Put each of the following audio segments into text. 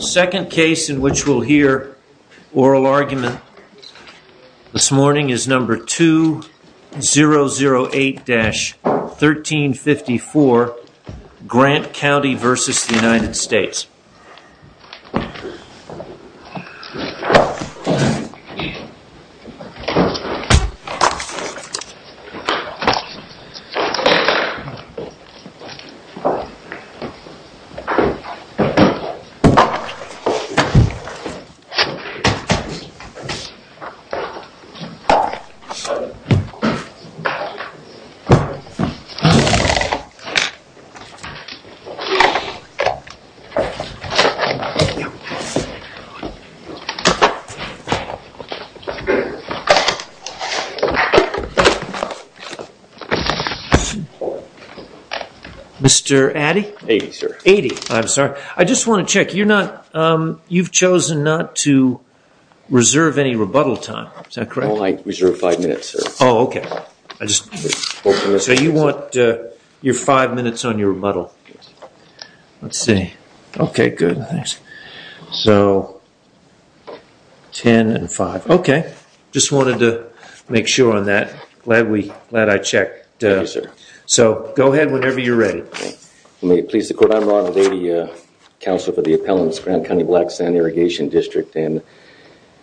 Second case in which we'll hear oral argument this morning is number 2008-1354, Grant County v. United States. Mr. Addy. Mr. Addy. 80, sir. 80, I'm sorry. I just want to check, you've chosen not to reserve any rebuttal time, is that correct? I only reserve five minutes, sir. Oh, okay. So you want your five minutes on your rebuttal. Yes. Let's see. Okay, good. Thanks. So ten and five. Okay. Just wanted to make sure on that. Glad we, glad I checked. Yes, sir. So go ahead whenever you're ready. May it please the court. I'm Ronald Addy, counselor for the appellants, Grant County Black Sand Irrigation District and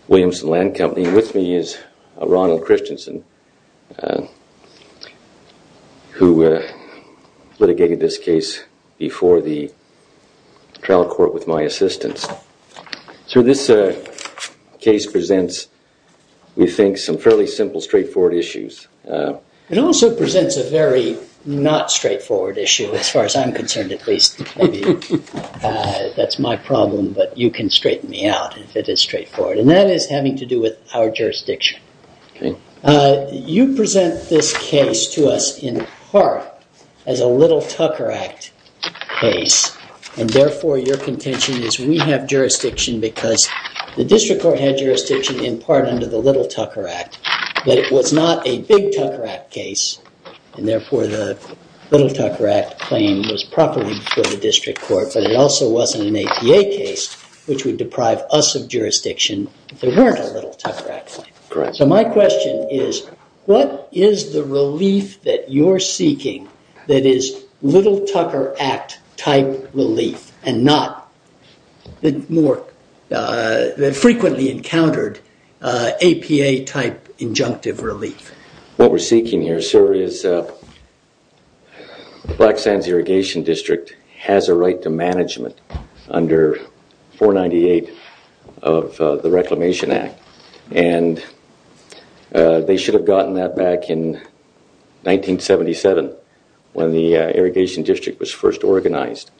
Williamson Land Company. Standing with me is Ronald Christensen who litigated this case before the trial court with my assistance. Sir, this case presents, we think, some fairly simple straightforward issues. It also presents a very not straightforward issue as far as I'm concerned at least. That's my problem but you can straighten me out if it is straightforward. And that is having to do with our jurisdiction. Okay. You present this case to us in part as a Little Tucker Act case and therefore your contention is we have jurisdiction because the district court had jurisdiction in part under the Little Tucker Act but it was not a big Tucker Act case and therefore the Little Tucker Act claim was properly before the district court but it also wasn't an APA case which would deprive us of jurisdiction if there weren't a Little Tucker Act claim. Correct. So my question is what is the relief that you're seeking that is Little Tucker Act type relief and not the more frequently encountered APA type injunctive relief? What we're seeking here, sir, is Black Sands Irrigation District has a right to management under 498 of the Reclamation Act and they should have gotten that back in 1977 when the irrigation district was first organized.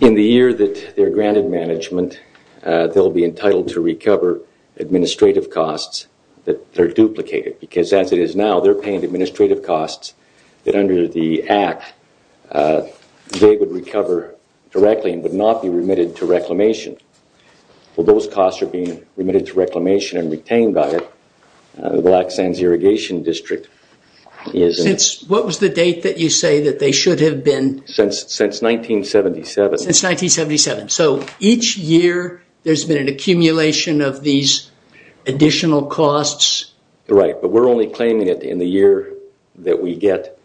In the year that they're granted management, they'll be entitled to recover administrative costs that are duplicated because as it is now, they're paying administrative costs that under the act they would recover directly and would not be remitted to reclamation. Well, those costs are being remitted to reclamation and retained by the Black Sands Irrigation District. What was the date that you say that they should have been? Since 1977. Since 1977. So each year there's been an accumulation of these additional costs? Right, but we're only claiming it in the year that we get,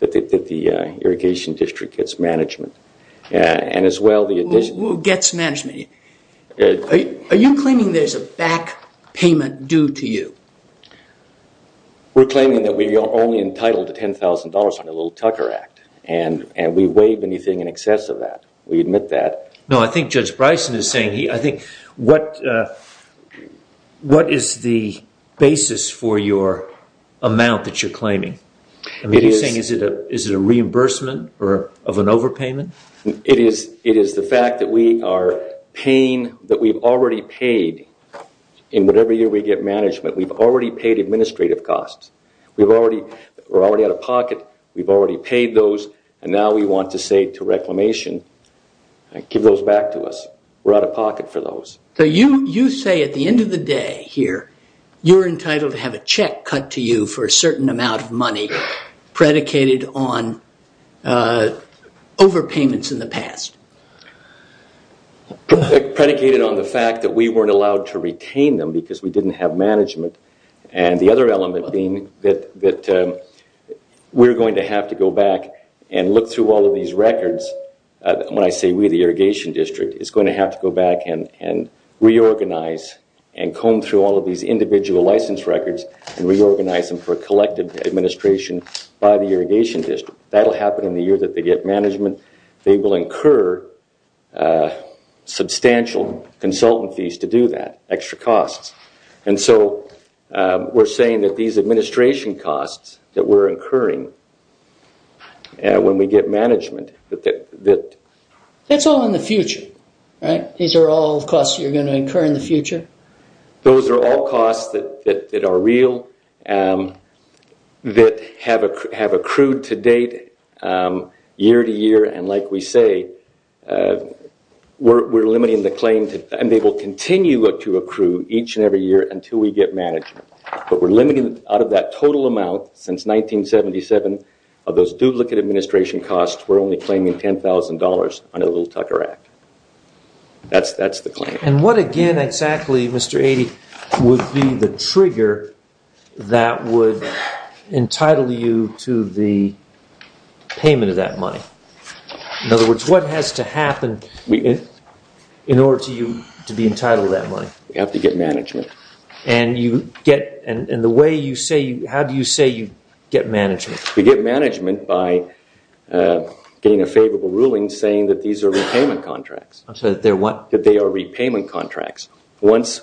that the irrigation district gets management. Who gets management? Are you claiming there's a back payment due to you? We're claiming that we are only entitled to $10,000 under the Little Tucker Act and we waive anything in excess of that. We admit that. No, I think Judge Bryson is saying, what is the basis for your amount that you're claiming? Is it a reimbursement of an overpayment? It is the fact that we are paying, that we've already paid in whatever year we get management, we've already paid administrative costs. We're already out of pocket, we've already paid those, and now we want to say to reclamation, give those back to us. We're out of pocket for those. So you say at the end of the day here, you're entitled to have a check cut to you for a certain amount of money predicated on overpayments in the past. Predicated on the fact that we weren't allowed to retain them because we didn't have management and the other element being that we're going to have to go back and look through all of these records. When I say we, the irrigation district is going to have to go back and reorganize and comb through all of these individual license records and reorganize them for collective administration by the irrigation district. That will happen in the year that they get management. They will incur substantial consultant fees to do that, extra costs. And so we're saying that these administration costs that we're incurring when we get management. That's all in the future. These are all costs you're going to incur in the future? Those are all costs that are real, that have accrued to date, year to year. And like we say, we're limiting the claim, and they will continue to accrue each and every year until we get management. But we're limiting it out of that total amount since 1977. Of those duplicate administration costs, we're only claiming $10,000 under the Little Tucker Act. That's the claim. And what again exactly, Mr. Eaddy, would be the trigger that would entitle you to the payment of that money? In other words, what has to happen in order for you to be entitled to that money? You have to get management. And the way you say, how do you say you get management? You get management by getting a favorable ruling saying that these are repayment contracts. I'm sorry, that they're what? That they are repayment contracts. Once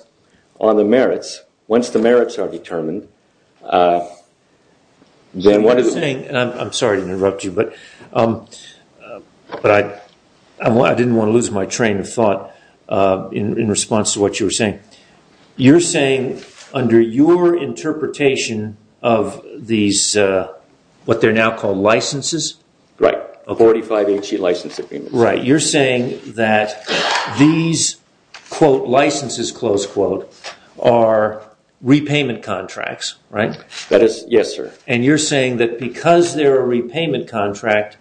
the merits are determined, then what is it? I'm sorry to interrupt you, but I didn't want to lose my train of thought in response to what you were saying. You're saying under your interpretation of these, what they're now called licenses? Right. A 45 HE license agreement. Right. You're saying that these, quote, licenses, close quote, are repayment contracts, right? Yes, sir. And you're saying that because they're a repayment contract,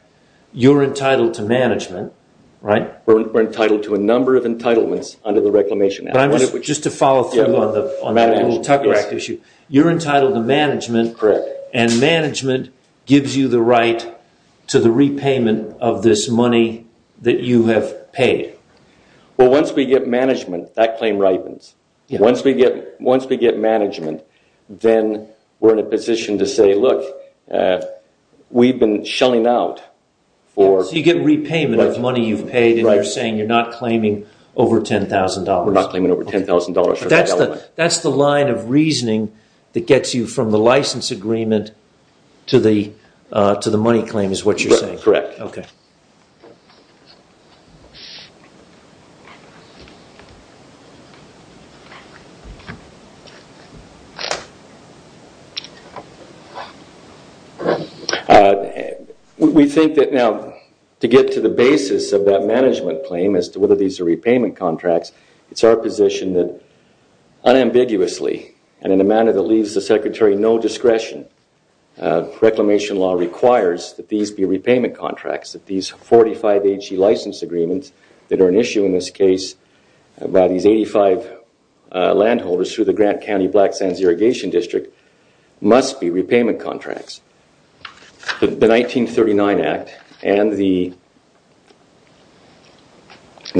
you're entitled to management, right? We're entitled to a number of entitlements under the reclamation act. Just to follow through on the little Tucker Act issue. You're entitled to management. Correct. And management gives you the right to the repayment of this money that you have paid. Well, once we get management, that claim ripens. Once we get management, then we're in a position to say, look, we've been shelling out. So you get repayment of money you've paid and you're saying you're not claiming over $10,000. We're not claiming over $10,000. That's the line of reasoning that gets you from the license agreement to the money claim is what you're saying. Correct. Okay. We think that now to get to the basis of that management claim as to whether these are repayment contracts, it's our position that unambiguously and in a manner that leaves the secretary no discretion, reclamation law requires that these be repayment contracts, that these 45 AG license agreements that are an issue in this case by these 85 landholders through the Grant County Black Sands Irrigation District must be repayment contracts. The 1939 Act and the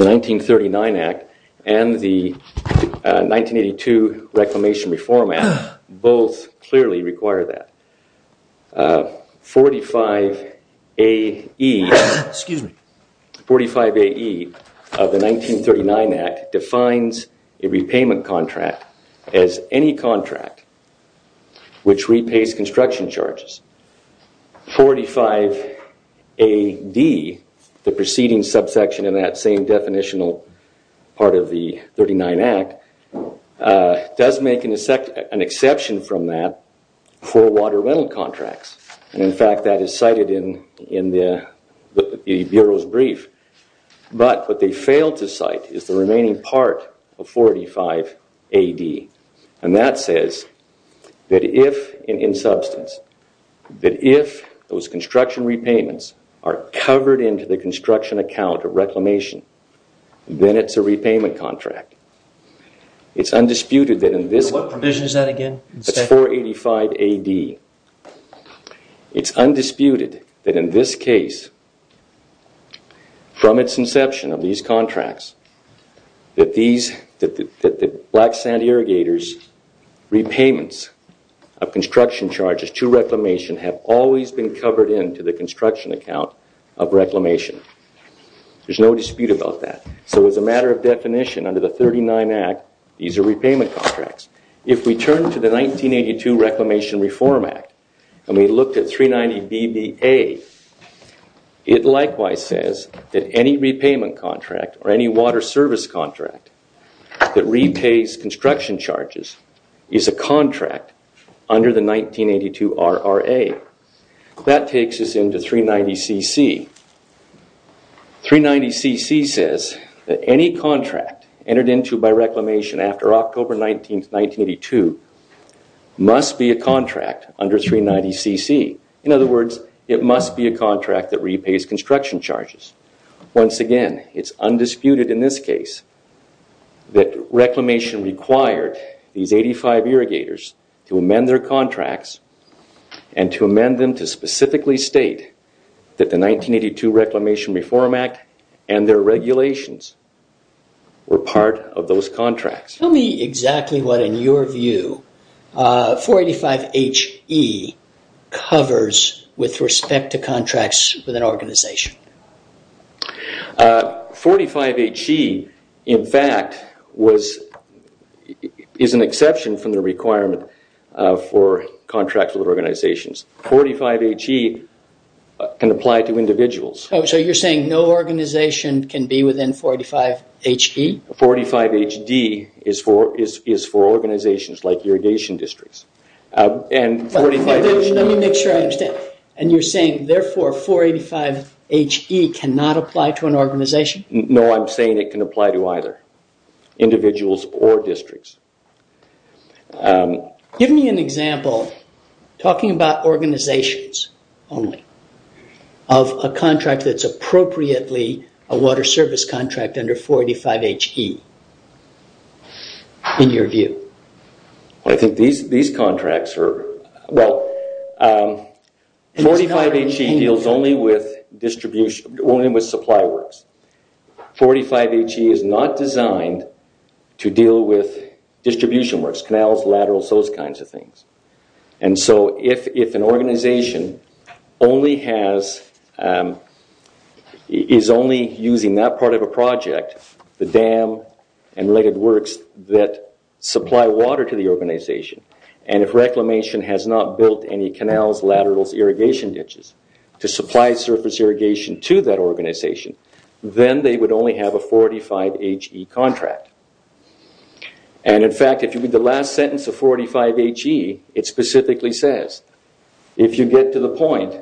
1932 Reclamation Reform Act both clearly require that. 45 AE of the 1939 Act defines a repayment contract as any contract which repays construction charges. 45 AD, the preceding subsection in that same definitional part of the 39 Act, does make an exception from that for water rental contracts. And in fact, that is cited in the Bureau's brief. But what they fail to cite is the remaining part of 45 AD. And that says that if in substance, that if those construction repayments are covered into the construction account of reclamation, then it's a repayment contract. It's undisputed that in this... What provision is that again? That's 485 AD. It's undisputed that in this case, from its inception of these contracts, that the Black Sand Irrigators repayments of construction charges to reclamation have always been covered into the construction account of reclamation. There's no dispute about that. So as a matter of definition, under the 39 Act, these are repayment contracts. If we turn to the 1982 Reclamation Reform Act and we looked at 390 BBA, it likewise says that any repayment contract or any water service contract that repays construction charges is a contract under the 1982 RRA. That takes us into 390 CC. 390 CC says that any contract entered into by reclamation after October 19, 1982 must be a contract under 390 CC. In other words, it must be a contract that repays construction charges. Once again, it's undisputed in this case that reclamation required these 85 irrigators to amend their contracts and to amend them to specifically state that the 1982 Reclamation Reform Act and their regulations were part of those contracts. Tell me exactly what, in your view, 485HE covers with respect to contracts within an organization. 485HE, in fact, is an exception from the requirement for contracts with organizations. 485HE can apply to individuals. So you're saying no organization can be within 485HE? 485HD is for organizations like irrigation districts. Let me make sure I understand. You're saying, therefore, 485HE cannot apply to an organization? No, I'm saying it can apply to either individuals or districts. Give me an example, talking about organizations only, of a contract that's appropriately a water service contract under 485HE, in your view. I think these contracts are... Well, 485HE deals only with supply works. 485HE is not designed to deal with distribution works, canals, laterals, those kinds of things. If an organization is only using that part of a project, the dam and related works that supply water to the organization, and if Reclamation has not built any canals, laterals, irrigation ditches to supply surface irrigation to that organization, then they would only have a 485HE contract. And in fact, if you read the last sentence of 485HE, it specifically says, if you get to the point,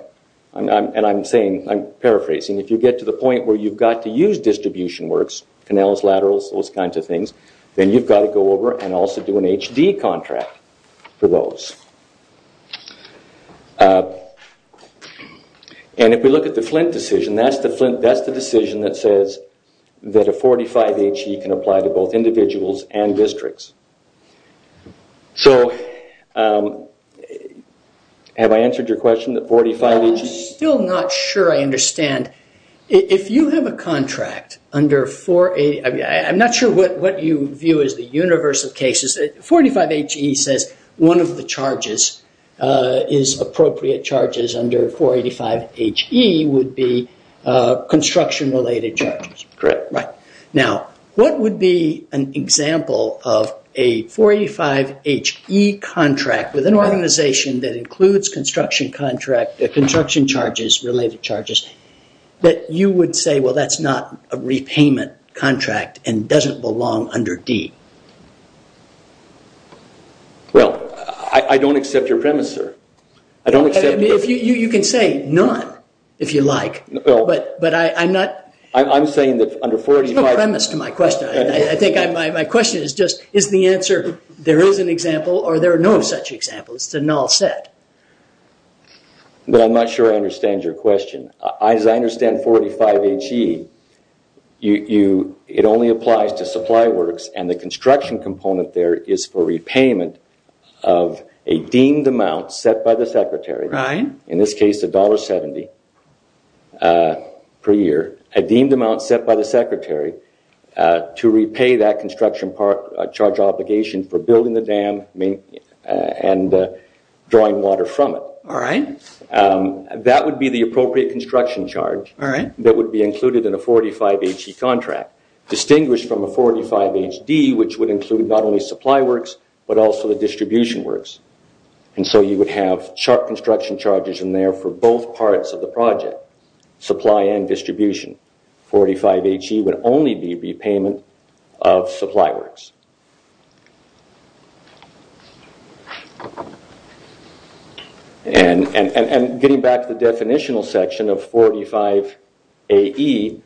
and I'm paraphrasing, if you get to the point where you've got to use distribution works, canals, laterals, those kinds of things, then you've got to go over and also do an HD contract for those. And if we look at the Flint decision, that's the decision that says that a 485HE can apply to both individuals and districts. Have I answered your question? I'm still not sure I understand. If you have a contract under 485... I'm not sure what you view as the universe of cases. 485HE says one of the charges is appropriate charges under 485HE would be construction-related charges. Correct. Now, what would be an example of a 485HE contract with an organization that includes construction charges, related charges, that you would say, well, that's not a repayment contract and doesn't belong under D? Well, I don't accept your premise, sir. You can say none, if you like, but I'm not... There's no premise to my question. I think my question is just is the answer there is an example or there are no such examples, it's a null set. No, I'm not sure I understand your question. As I understand 485HE, it only applies to supply works and the construction component there is for repayment of a deemed amount set by the Secretary, in this case $1.70 per year, a deemed amount set by the Secretary to repay that construction charge obligation for building the dam and drawing water from it. All right. That would be the appropriate construction charge that would be included in a 485HE contract, distinguished from a 485HD, which would include not only supply works but also the distribution works. And so you would have sharp construction charges in there for both parts of the project, supply and distribution. 485HE would only be repayment of supply works. And getting back to the definitional section of 485AE,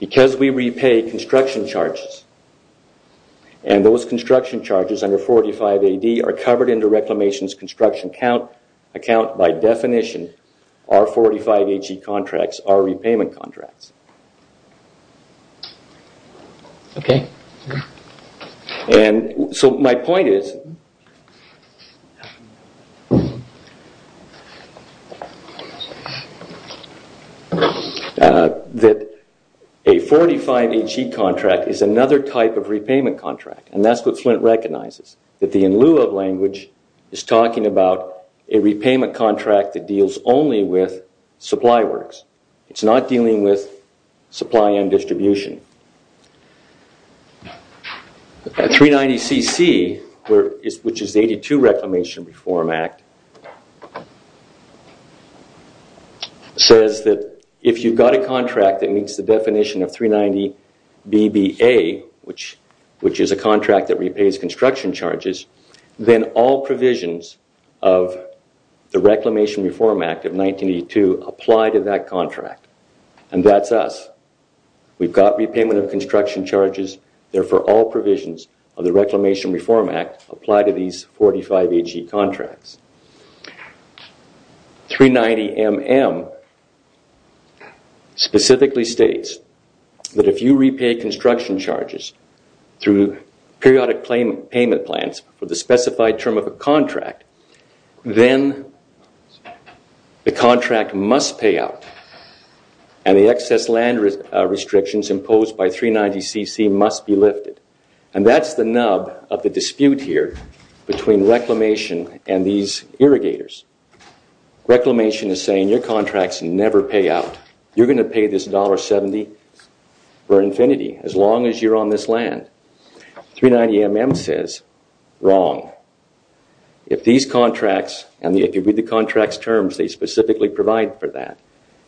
because we repay construction charges, and those construction charges under 485AD are covered under Reclamation's construction account by definition. Our 485HE contracts are repayment contracts. And so my point is that a 485HE contract is another type of repayment contract, and that's what Flint recognizes, that the in lieu of language is talking about a repayment contract that deals only with supply works. It's not dealing with supply and distribution. 390CC, which is the 82 Reclamation Reform Act, says that if you've got a contract that meets the definition of 390BBA, which is a contract that repays construction charges, then all provisions of the Reclamation Reform Act of 1982 apply to that contract. And that's us. We've got repayment of construction charges, therefore all provisions of the Reclamation Reform Act apply to these 45HE contracts. 390MM specifically states that if you repay construction charges through periodic payment plans for the specified term of a contract, then the contract must pay out and the excess land restrictions imposed by 390CC must be lifted. And that's the nub of the dispute here between Reclamation and these irrigators. Reclamation is saying your contracts never pay out. You're going to pay this $1.70 for infinity as long as you're on this land. 390MM says, wrong. If these contracts, and if you read the contract's terms, they specifically provide for that.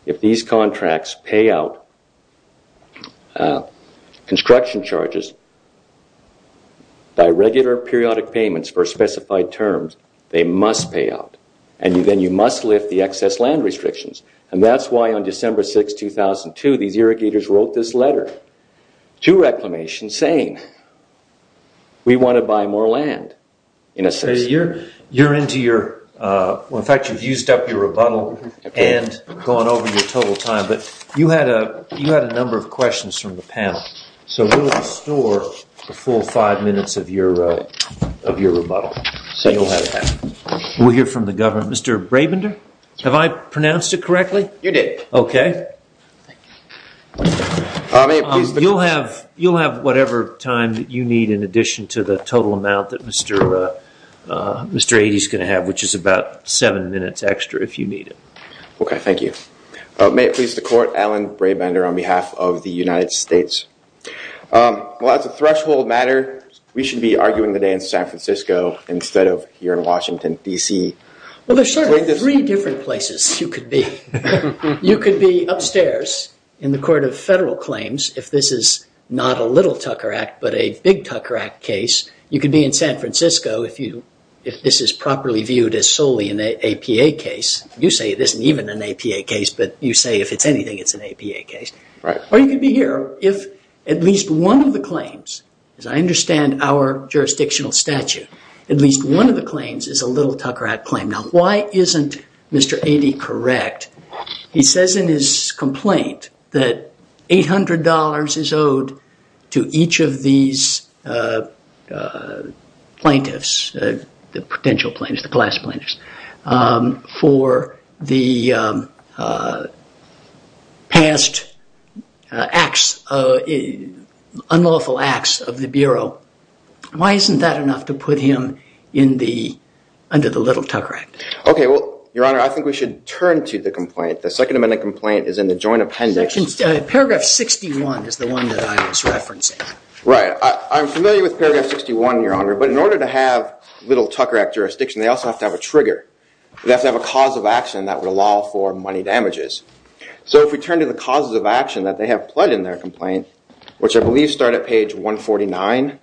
If these contracts pay out construction charges by regular periodic payments for specified terms, they must pay out. And then you must lift the excess land restrictions. And that's why on December 6, 2002, these irrigators wrote this letter to Reclamation saying, we want to buy more land. You're into your... In fact, you've used up your rebuttal and gone over your total time. But you had a number of questions from the panel. So we'll restore the full five minutes of your rebuttal. So you'll have that. We'll hear from the government. Mr. Brabender? Have I pronounced it correctly? You did. Okay. You'll have whatever time that you need in addition to the total amount that Mr. Aidey's going to have, which is about seven minutes extra if you need it. Okay, thank you. May it please the court, Alan Brabender on behalf of the United States. Well, as a threshold matter, we should be arguing the day in San Francisco instead of here in Washington, D.C. Well, there are certainly three different places you could be. You could be upstairs in the Court of Federal Claims if this is not a little Tucker Act but a big Tucker Act case. You could be in San Francisco if this is properly viewed as solely an APA case. You say it isn't even an APA case, but you say if it's anything, it's an APA case. Or you could be here if at least one of the claims, as I understand our jurisdictional statute, at least one of the claims is a little Tucker Act claim. Now, why isn't Mr. Aidey correct? He says in his complaint that $800 is owed to each of these plaintiffs, the potential plaintiffs, the class plaintiffs, for the past acts, unlawful acts of the Bureau. Why isn't that enough to put him under the little Tucker Act? Okay, well, Your Honor, I think we should turn to the complaint. The Second Amendment complaint is in the Joint Appendix. Paragraph 61 is the one that I was referencing. Right. I'm familiar with Paragraph 61, Your Honor, but in order to have little Tucker Act jurisdiction, they also have to have a trigger. They have to have a cause of action that would allow for money damages. So if we turn to the causes of action that they have pled in their complaint, which I believe start at page 149.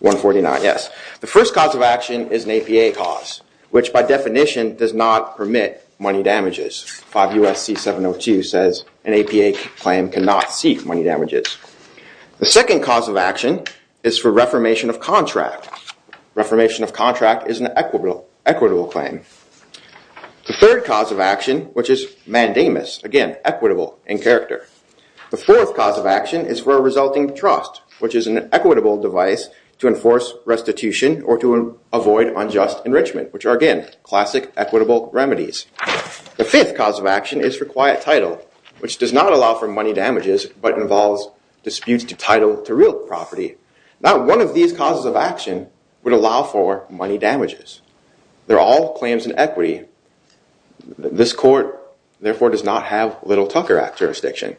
149, yes. The first cause of action is an APA cause, which by definition does not permit money damages. 5 U.S.C. 702 says an APA claim cannot seek money damages. The second cause of action is for reformation of contract. Reformation of contract is an equitable claim. The third cause of action, which is mandamus, again, equitable in character. The fourth cause of action is for a resulting trust, which is an equitable device to enforce restitution or to avoid unjust enrichment, which are, again, classic equitable remedies. The fifth cause of action is for quiet title, which does not allow for money damages, but involves disputes to title to real property. Not one of these causes of action would allow for money damages. They're all claims in equity. This court, therefore, does not have Little-Tucker Act jurisdiction.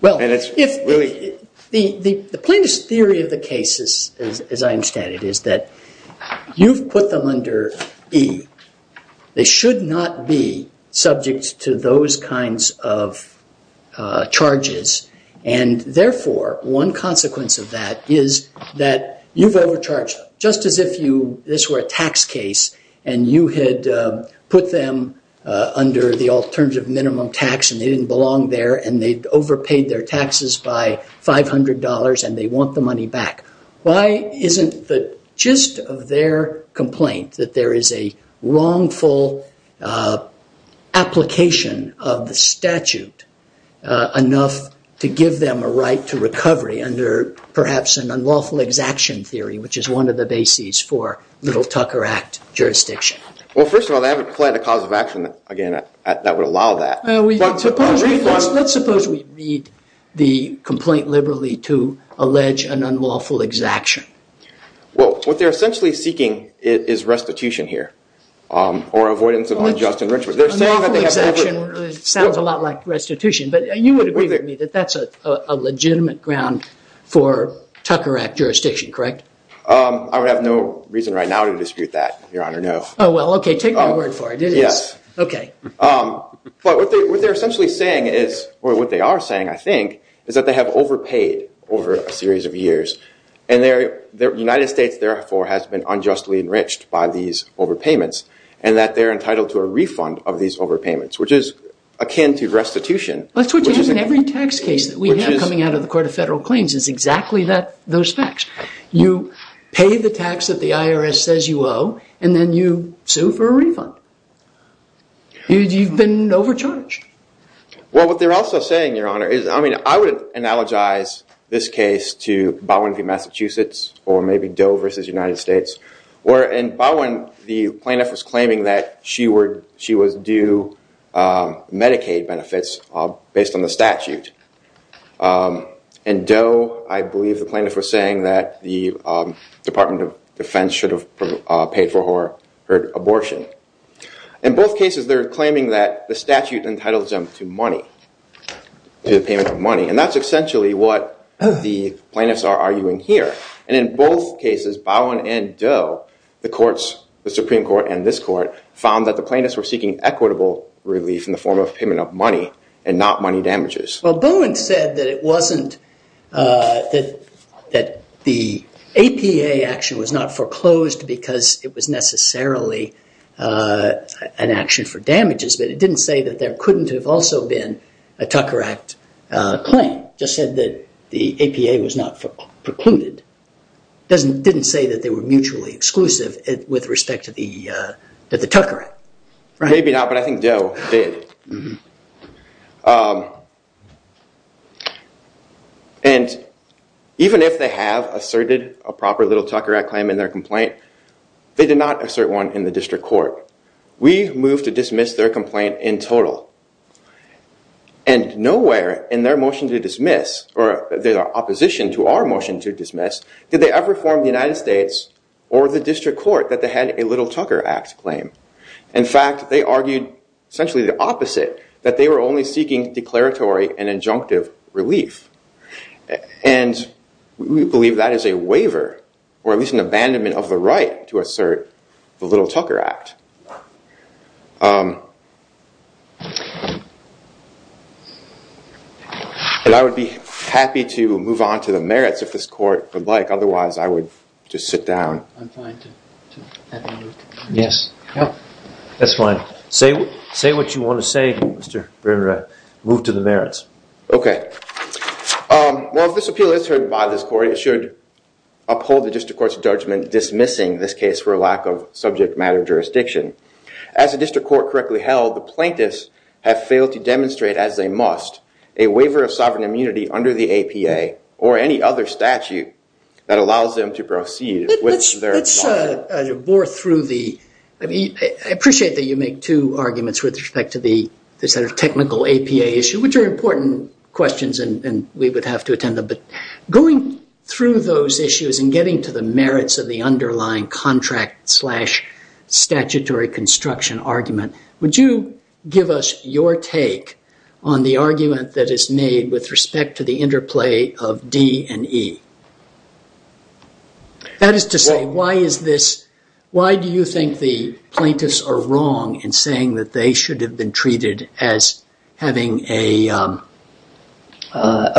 The plainest theory of the case, as I understand it, is that you've put them under E. They should not be subject to those kinds of charges, and therefore, one consequence of that is that you've overcharged them, just as if this were a tax case and you had put them under the alternative minimum tax and they didn't belong there and they'd overpaid their taxes by $500 and they want the money back. Why isn't the gist of their complaint that there is a wrongful application of the statute enough to give them a right to recovery under perhaps an unlawful exaction theory, which is one of the bases for Little-Tucker Act jurisdiction? First of all, they haven't declared a cause of action that would allow that. Let's suppose we read the complaint liberally to allege an unlawful exaction. What they're essentially seeking is restitution here or avoidance of unjust enrichment. Unlawful exaction sounds a lot like restitution, but you would agree with me that that's a legitimate ground for Tucker Act jurisdiction, correct? I would have no reason right now to dispute that, Your Honor, no. Oh, well, okay, take my word for it. Yes. Okay. But what they're essentially saying is, or what they are saying, I think, is that they have overpaid over a series of years and the United States, therefore, has been unjustly enriched by these overpayments and that they're entitled to a refund of these overpayments, which is akin to restitution. That's what you have in every tax case that we have coming out of the Court of Federal Claims is exactly those facts. You pay the tax that the IRS says you owe and then you sue for a refund. You've been overcharged. Well, what they're also saying, Your Honor, is, I mean, I would analogize this case to Bowen v. Massachusetts or maybe Doe v. United States where in Bowen, the plaintiff was claiming that she was due Medicaid benefits based on the statute. In Doe, I believe the plaintiff was saying that the Department of Defense should have paid for her abortion. In both cases, they're claiming that the statute entitles them to money, to the payment of money. And that's essentially what the plaintiffs are arguing here. And in both cases, Bowen and Doe, the courts, the Supreme Court and this court, found that the plaintiffs were seeking equitable relief in the form of payment of money and not money damages. Well, Bowen said that the APA action was not foreclosed because it was necessarily an action for damages. But it didn't say that there couldn't have also been a Tucker Act claim. It just said that the APA was not precluded. It didn't say that they were mutually exclusive with respect to the Tucker Act. Maybe not, but I think Doe did. And even if they have asserted a proper little Tucker Act claim in their complaint, they did not assert one in the district court. We moved to dismiss their complaint in total. And nowhere in their motion to dismiss, or their opposition to our motion to dismiss, did they ever form the United States or the district court that they had a little Tucker Act claim. In fact, they argued essentially the opposite, that they were only seeking declaratory and injunctive relief. And we believe that is a waiver or at least an abandonment of the right to assert the little Tucker Act. And I would be happy to move on to the merits if this court would like. Otherwise, I would just sit down. That's fine. Say what you want to say, Mr. Brewer. Move to the merits. OK. Well, if this appeal is heard by this court, it should uphold the district court's judgment dismissing this case for a lack of subject matter jurisdiction. As the district court correctly held, the plaintiffs have failed to demonstrate, as they must, a waiver of sovereign immunity under the APA or any other statute that allows them to proceed with their file. I appreciate that you make two arguments with respect to the technical APA issue, which are important questions and we would have to attend them. But going through those issues and getting to the merits of the underlying contract slash statutory construction argument, would you give us your take on the argument that is made with respect to the interplay of D and E? That is to say, why do you think the plaintiffs are wrong in saying that they should have been treated as having a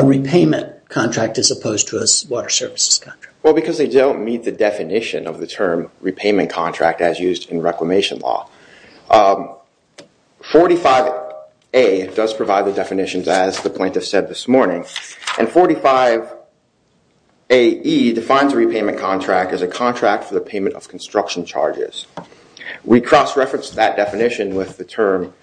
repayment contract as opposed to a water services contract? Well, because they don't meet the definition of the term repayment contract as used in reclamation law. 45A does provide the definitions, as the plaintiff said this morning. And 45AE defines a repayment contract as a contract for the payment of construction charges. We cross-referenced that definition with the term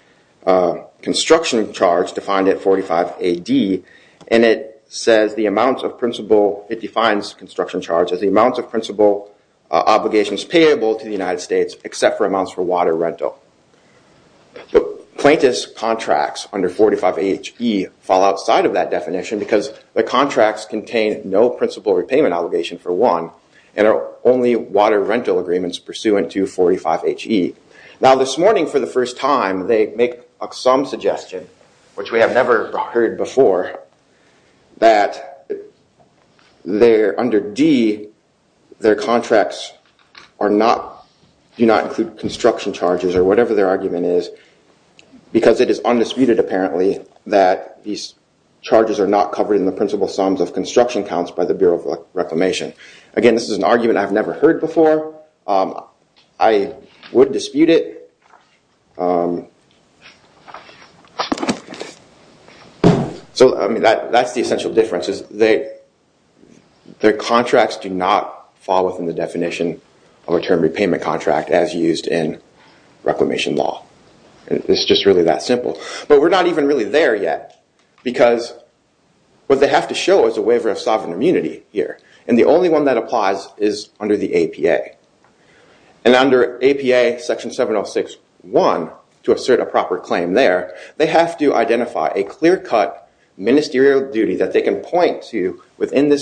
construction charge defined at 45AD. And it says the amount of principal, it defines construction charge as the amount of principal obligations payable to the United States except for amounts for water rental. The plaintiff's contracts under 45AHE fall outside of that definition because the contracts contain no principal repayment obligation for one and are only water rental agreements pursuant to 45AHE. Now this morning for the first time they make some suggestion, which we have never heard before, that under D their contracts do not include construction charges or whatever their argument is because it is undisputed apparently that these charges are not covered in the principal sums of construction counts by the Bureau of Reclamation. Again, this is an argument I've never heard before. I would dispute it. So that's the essential difference. Their contracts do not fall within the definition of a term repayment contract as used in reclamation law. It's just really that simple. But we're not even really there yet because what they have to show is a waiver of sovereign immunity here. And the only one that applies is under the APA. And under APA section 706.1, to assert a proper claim there, they have to identify a clear cut ministerial duty that they can point to within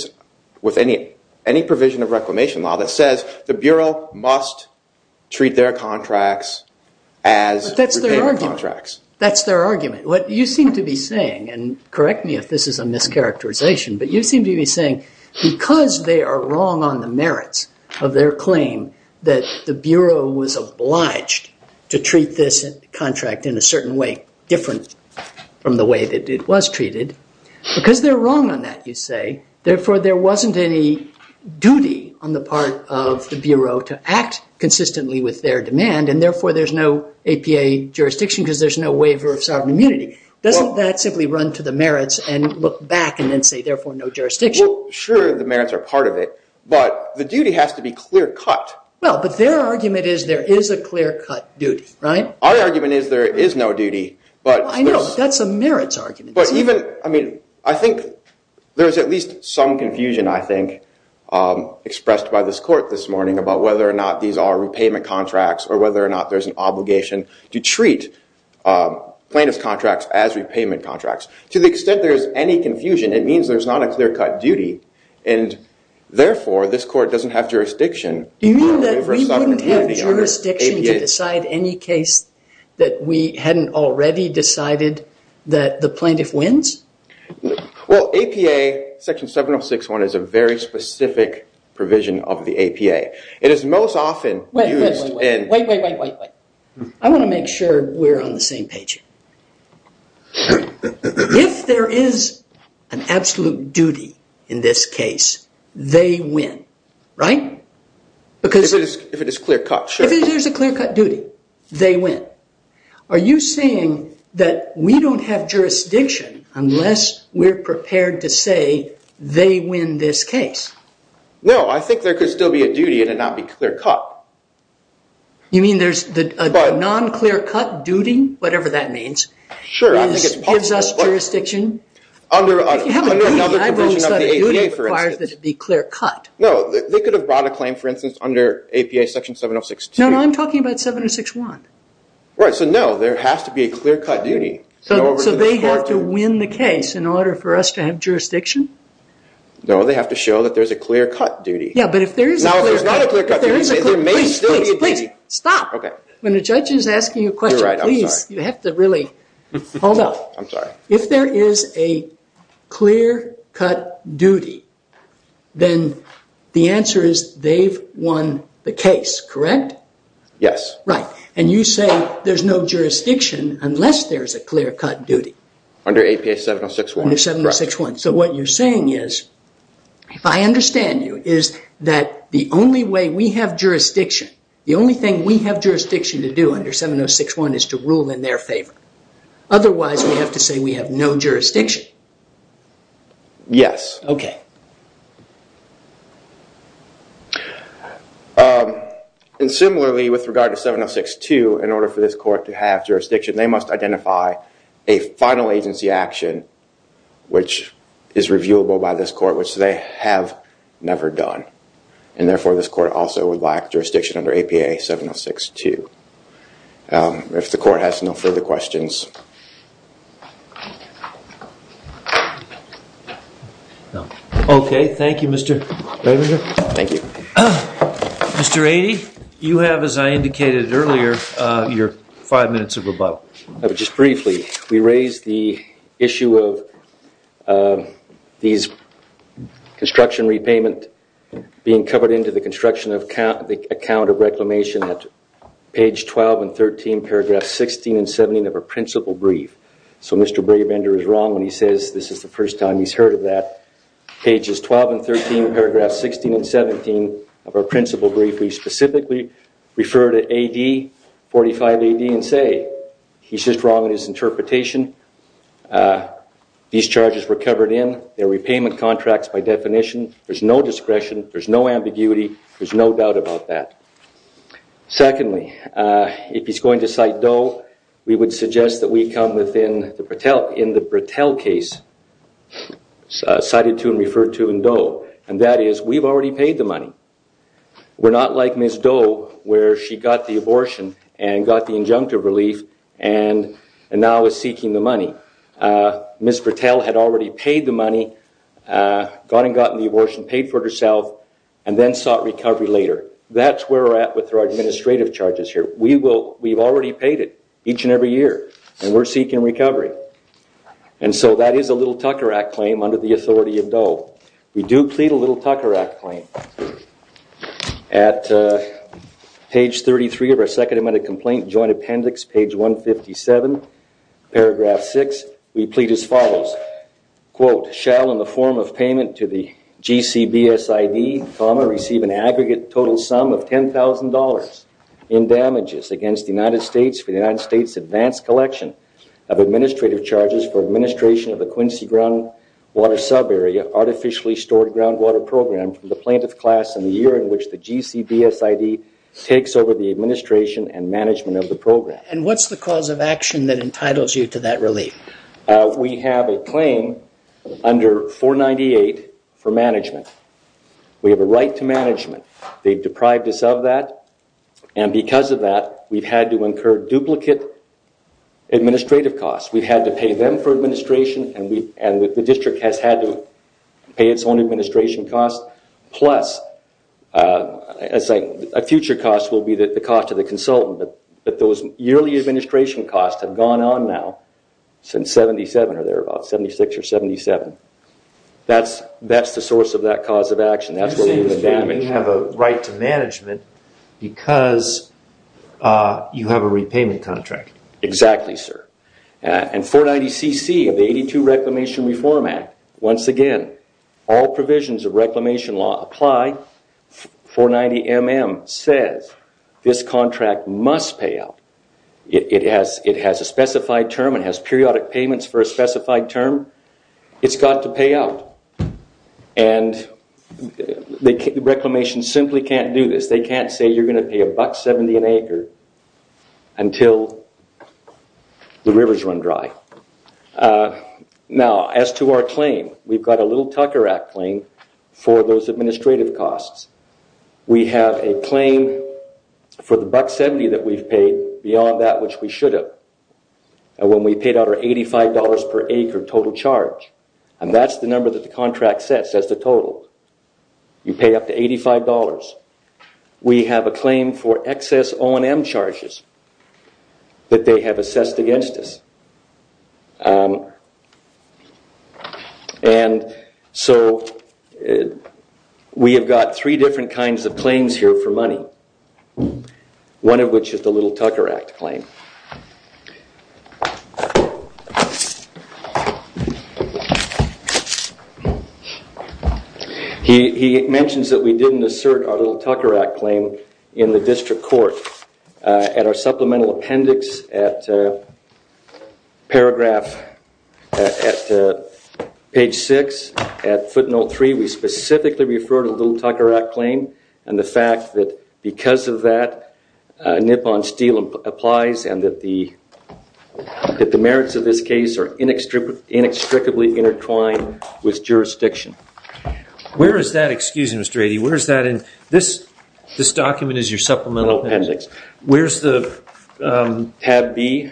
any provision of reclamation law that says the Bureau must treat their contracts as repayment contracts. But that's their argument. That's their argument. What you seem to be saying, and correct me if this is a mischaracterization, but you seem to be saying because they are wrong on the merits of their claim that the Bureau was obliged to treat this contract in a certain way, different from the way that it was treated, because they're wrong on that, you say, therefore there wasn't any duty on the part of the Bureau to act consistently with their demand and therefore there's no APA jurisdiction because there's no waiver of sovereign immunity. Doesn't that simply run to the merits and look back and then say, therefore, no jurisdiction? Well, sure, the merits are part of it. But the duty has to be clear cut. Well, but their argument is there is a clear cut duty. Right? Our argument is there is no duty. I know. That's a merits argument. But even, I mean, I think there's at least some confusion, I think, expressed by this court this morning about whether or not these are repayment contracts or whether or not there's an obligation to treat plaintiff's contracts as repayment contracts. To the extent there is any confusion, it means there's not a clear cut duty. And therefore, this court doesn't have jurisdiction. Do you mean that we wouldn't have jurisdiction to decide any case that we hadn't already decided that the plaintiff wins? Well, APA section 706.1 is a very specific provision of the APA. It is most often used in- Wait, wait, wait, wait, wait, wait. I want to make sure we're on the same page here. If there is an absolute duty in this case, they win. Right? Because- If it is clear cut, sure. If there's a clear cut duty, they win. Are you saying that we don't have jurisdiction unless we're prepared to say they win this case? No, I think there could still be a duty and it not be clear cut. You mean there's a non-clear cut duty? Whatever that means. Sure, I think it's possible. It gives us jurisdiction. If you have a duty, I've always thought a duty requires that it be clear cut. No, they could have brought a claim, for instance, under APA section 706.2. No, no, I'm talking about 706.1. Right, so no, there has to be a clear cut duty. So they have to win the case in order for us to have jurisdiction? No, they have to show that there's a clear cut duty. Yeah, but if there is a clear cut- Now, if there's not a clear cut duty, there may still be a duty. Please, please, please, stop. Okay. When a judge is asking a question, please, you have to really- Hold up. I'm sorry. If there is a clear cut duty, then the answer is they've won the case, correct? Yes. Right, and you say there's no jurisdiction unless there's a clear cut duty. Under APA 706.1. Under 706.1. So what you're saying is, if I understand you, is that the only way we have jurisdiction, the only thing we have jurisdiction to do under 706.1 is to rule in their favor. Otherwise, we have to say we have no jurisdiction. Yes. Okay. And similarly, with regard to 706.2, in order for this court to have jurisdiction, they must identify a final agency action which is reviewable by this court, which they have never done. And therefore, this court also would lack jurisdiction under APA 706.2. If the court has no further questions. Okay, thank you, Mr. Thank you. Mr. Aidey, you have, as I indicated earlier, your five minutes of rebuttal. Just briefly, we raised the issue of these construction repayment being covered into the construction account of reclamation at page 12 and 13, paragraphs 16 and 17 of our principal brief. So Mr. Brabender is wrong when he says this is the first time he's heard of that. Pages 12 and 13, paragraphs 16 and 17 of our principal brief, we specifically refer to AD 45AD and say, he's just wrong in his interpretation. These charges were covered in. They're repayment contracts by definition. There's no discretion. There's no ambiguity. There's no doubt about that. Secondly, if he's going to cite Doe, we would suggest that we come within the Bratel case cited to and referred to in Doe. And that is, we've already paid the money. We're not like Ms. Doe where she got the abortion and got the injunctive relief and now is seeking the money. Ms. Bratel had already paid the money, gotten the abortion, paid for it herself and then sought recovery later. That's where we're at with our administrative charges here. We've already paid it each and every year and we're seeking recovery. And so that is a Little Tucker Act claim under the authority of Doe. We do plead a Little Tucker Act claim. At page 33 of our second amendment complaint joint appendix, page 157, paragraph 6, we plead as follows. Quote, shall in the form of payment to the GCBSID, receive an aggregate total sum of $10,000 in damages against the United States for the United States advanced collection of administrative charges for administration of the Quincy groundwater subarea artificially stored groundwater program from the plaintiff class in the year in which the GCBSID takes over the administration and management of the program. And what's the cause of action that entitles you to that relief? We have a claim under 498 for management. We have a right to management. They've deprived us of that and because of that we've had to incur duplicate administrative costs. We've had to pay them for administration and the district has had to pay its own administration costs plus a future cost will be the cost of the consultant. But those yearly administration costs have gone on now since 77 or thereabouts, 76 or 77. That's the source of that cause of action. That's where we've been damaged. You seem to have a right to management because you have a repayment contract. Exactly, sir. And 490CC of the 82 Reclamation Reform Act, once again, all provisions of reclamation law apply. 490MM says this contract must pay out. It has a specified term. It has periodic payments for a specified term. It's got to pay out. And the reclamation simply can't do this. They can't say you're going to pay a buck 70 an acre until the rivers run dry. Now, as to our claim, we've got a little Tucker Act claim for those administrative costs. We have a claim for the buck 70 that we've paid beyond that which we should have when we paid out our $85 per acre total charge. And that's the number that the contract sets as the total. You pay up to $85. We have a claim for excess O&M charges that they have assessed against us. And so we have got three different kinds of claims here for money, one of which is the little Tucker Act claim. He mentions that we didn't assert our little Tucker Act claim in the district court. At our supplemental appendix, at paragraph, at page 6, at footnote 3, we specifically refer to the little Tucker Act claim and the fact that because of that, a nip on steel applies and that the merits of this case are inextricably intertwined with jurisdiction. Where is that, excuse me, Mr. Addy, where is that in... This document is your supplemental appendix. Where is the... Tab B.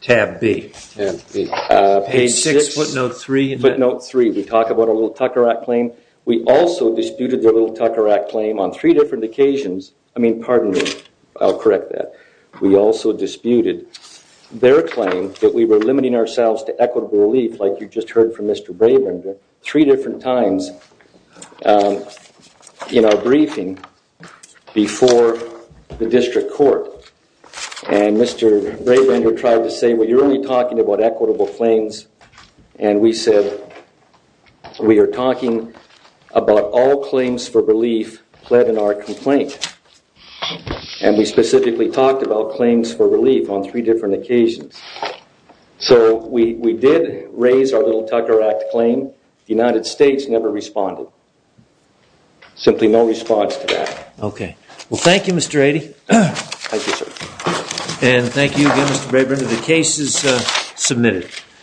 Tab B. Page 6, footnote 3. Footnote 3, we talk about our little Tucker Act claim. We also disputed the little Tucker Act claim on three different occasions. I mean, pardon me, I'll correct that. We also disputed their claim that we were limiting ourselves to equitable relief like you just heard from Mr. Brabrander three different times in our briefing before the district court and Mr. Brabrander tried to say, well, you're only talking about equitable claims and we said, we are talking about all claims for relief pled in our complaint and we specifically talked about claims for relief on three different occasions. So we did raise our little Tucker Act claim, the United States never responded. Simply no response to that. Okay. Well, thank you, Mr. Addy. Thank you, sir. And thank you again, Mr. Brabrander. The case is submitted.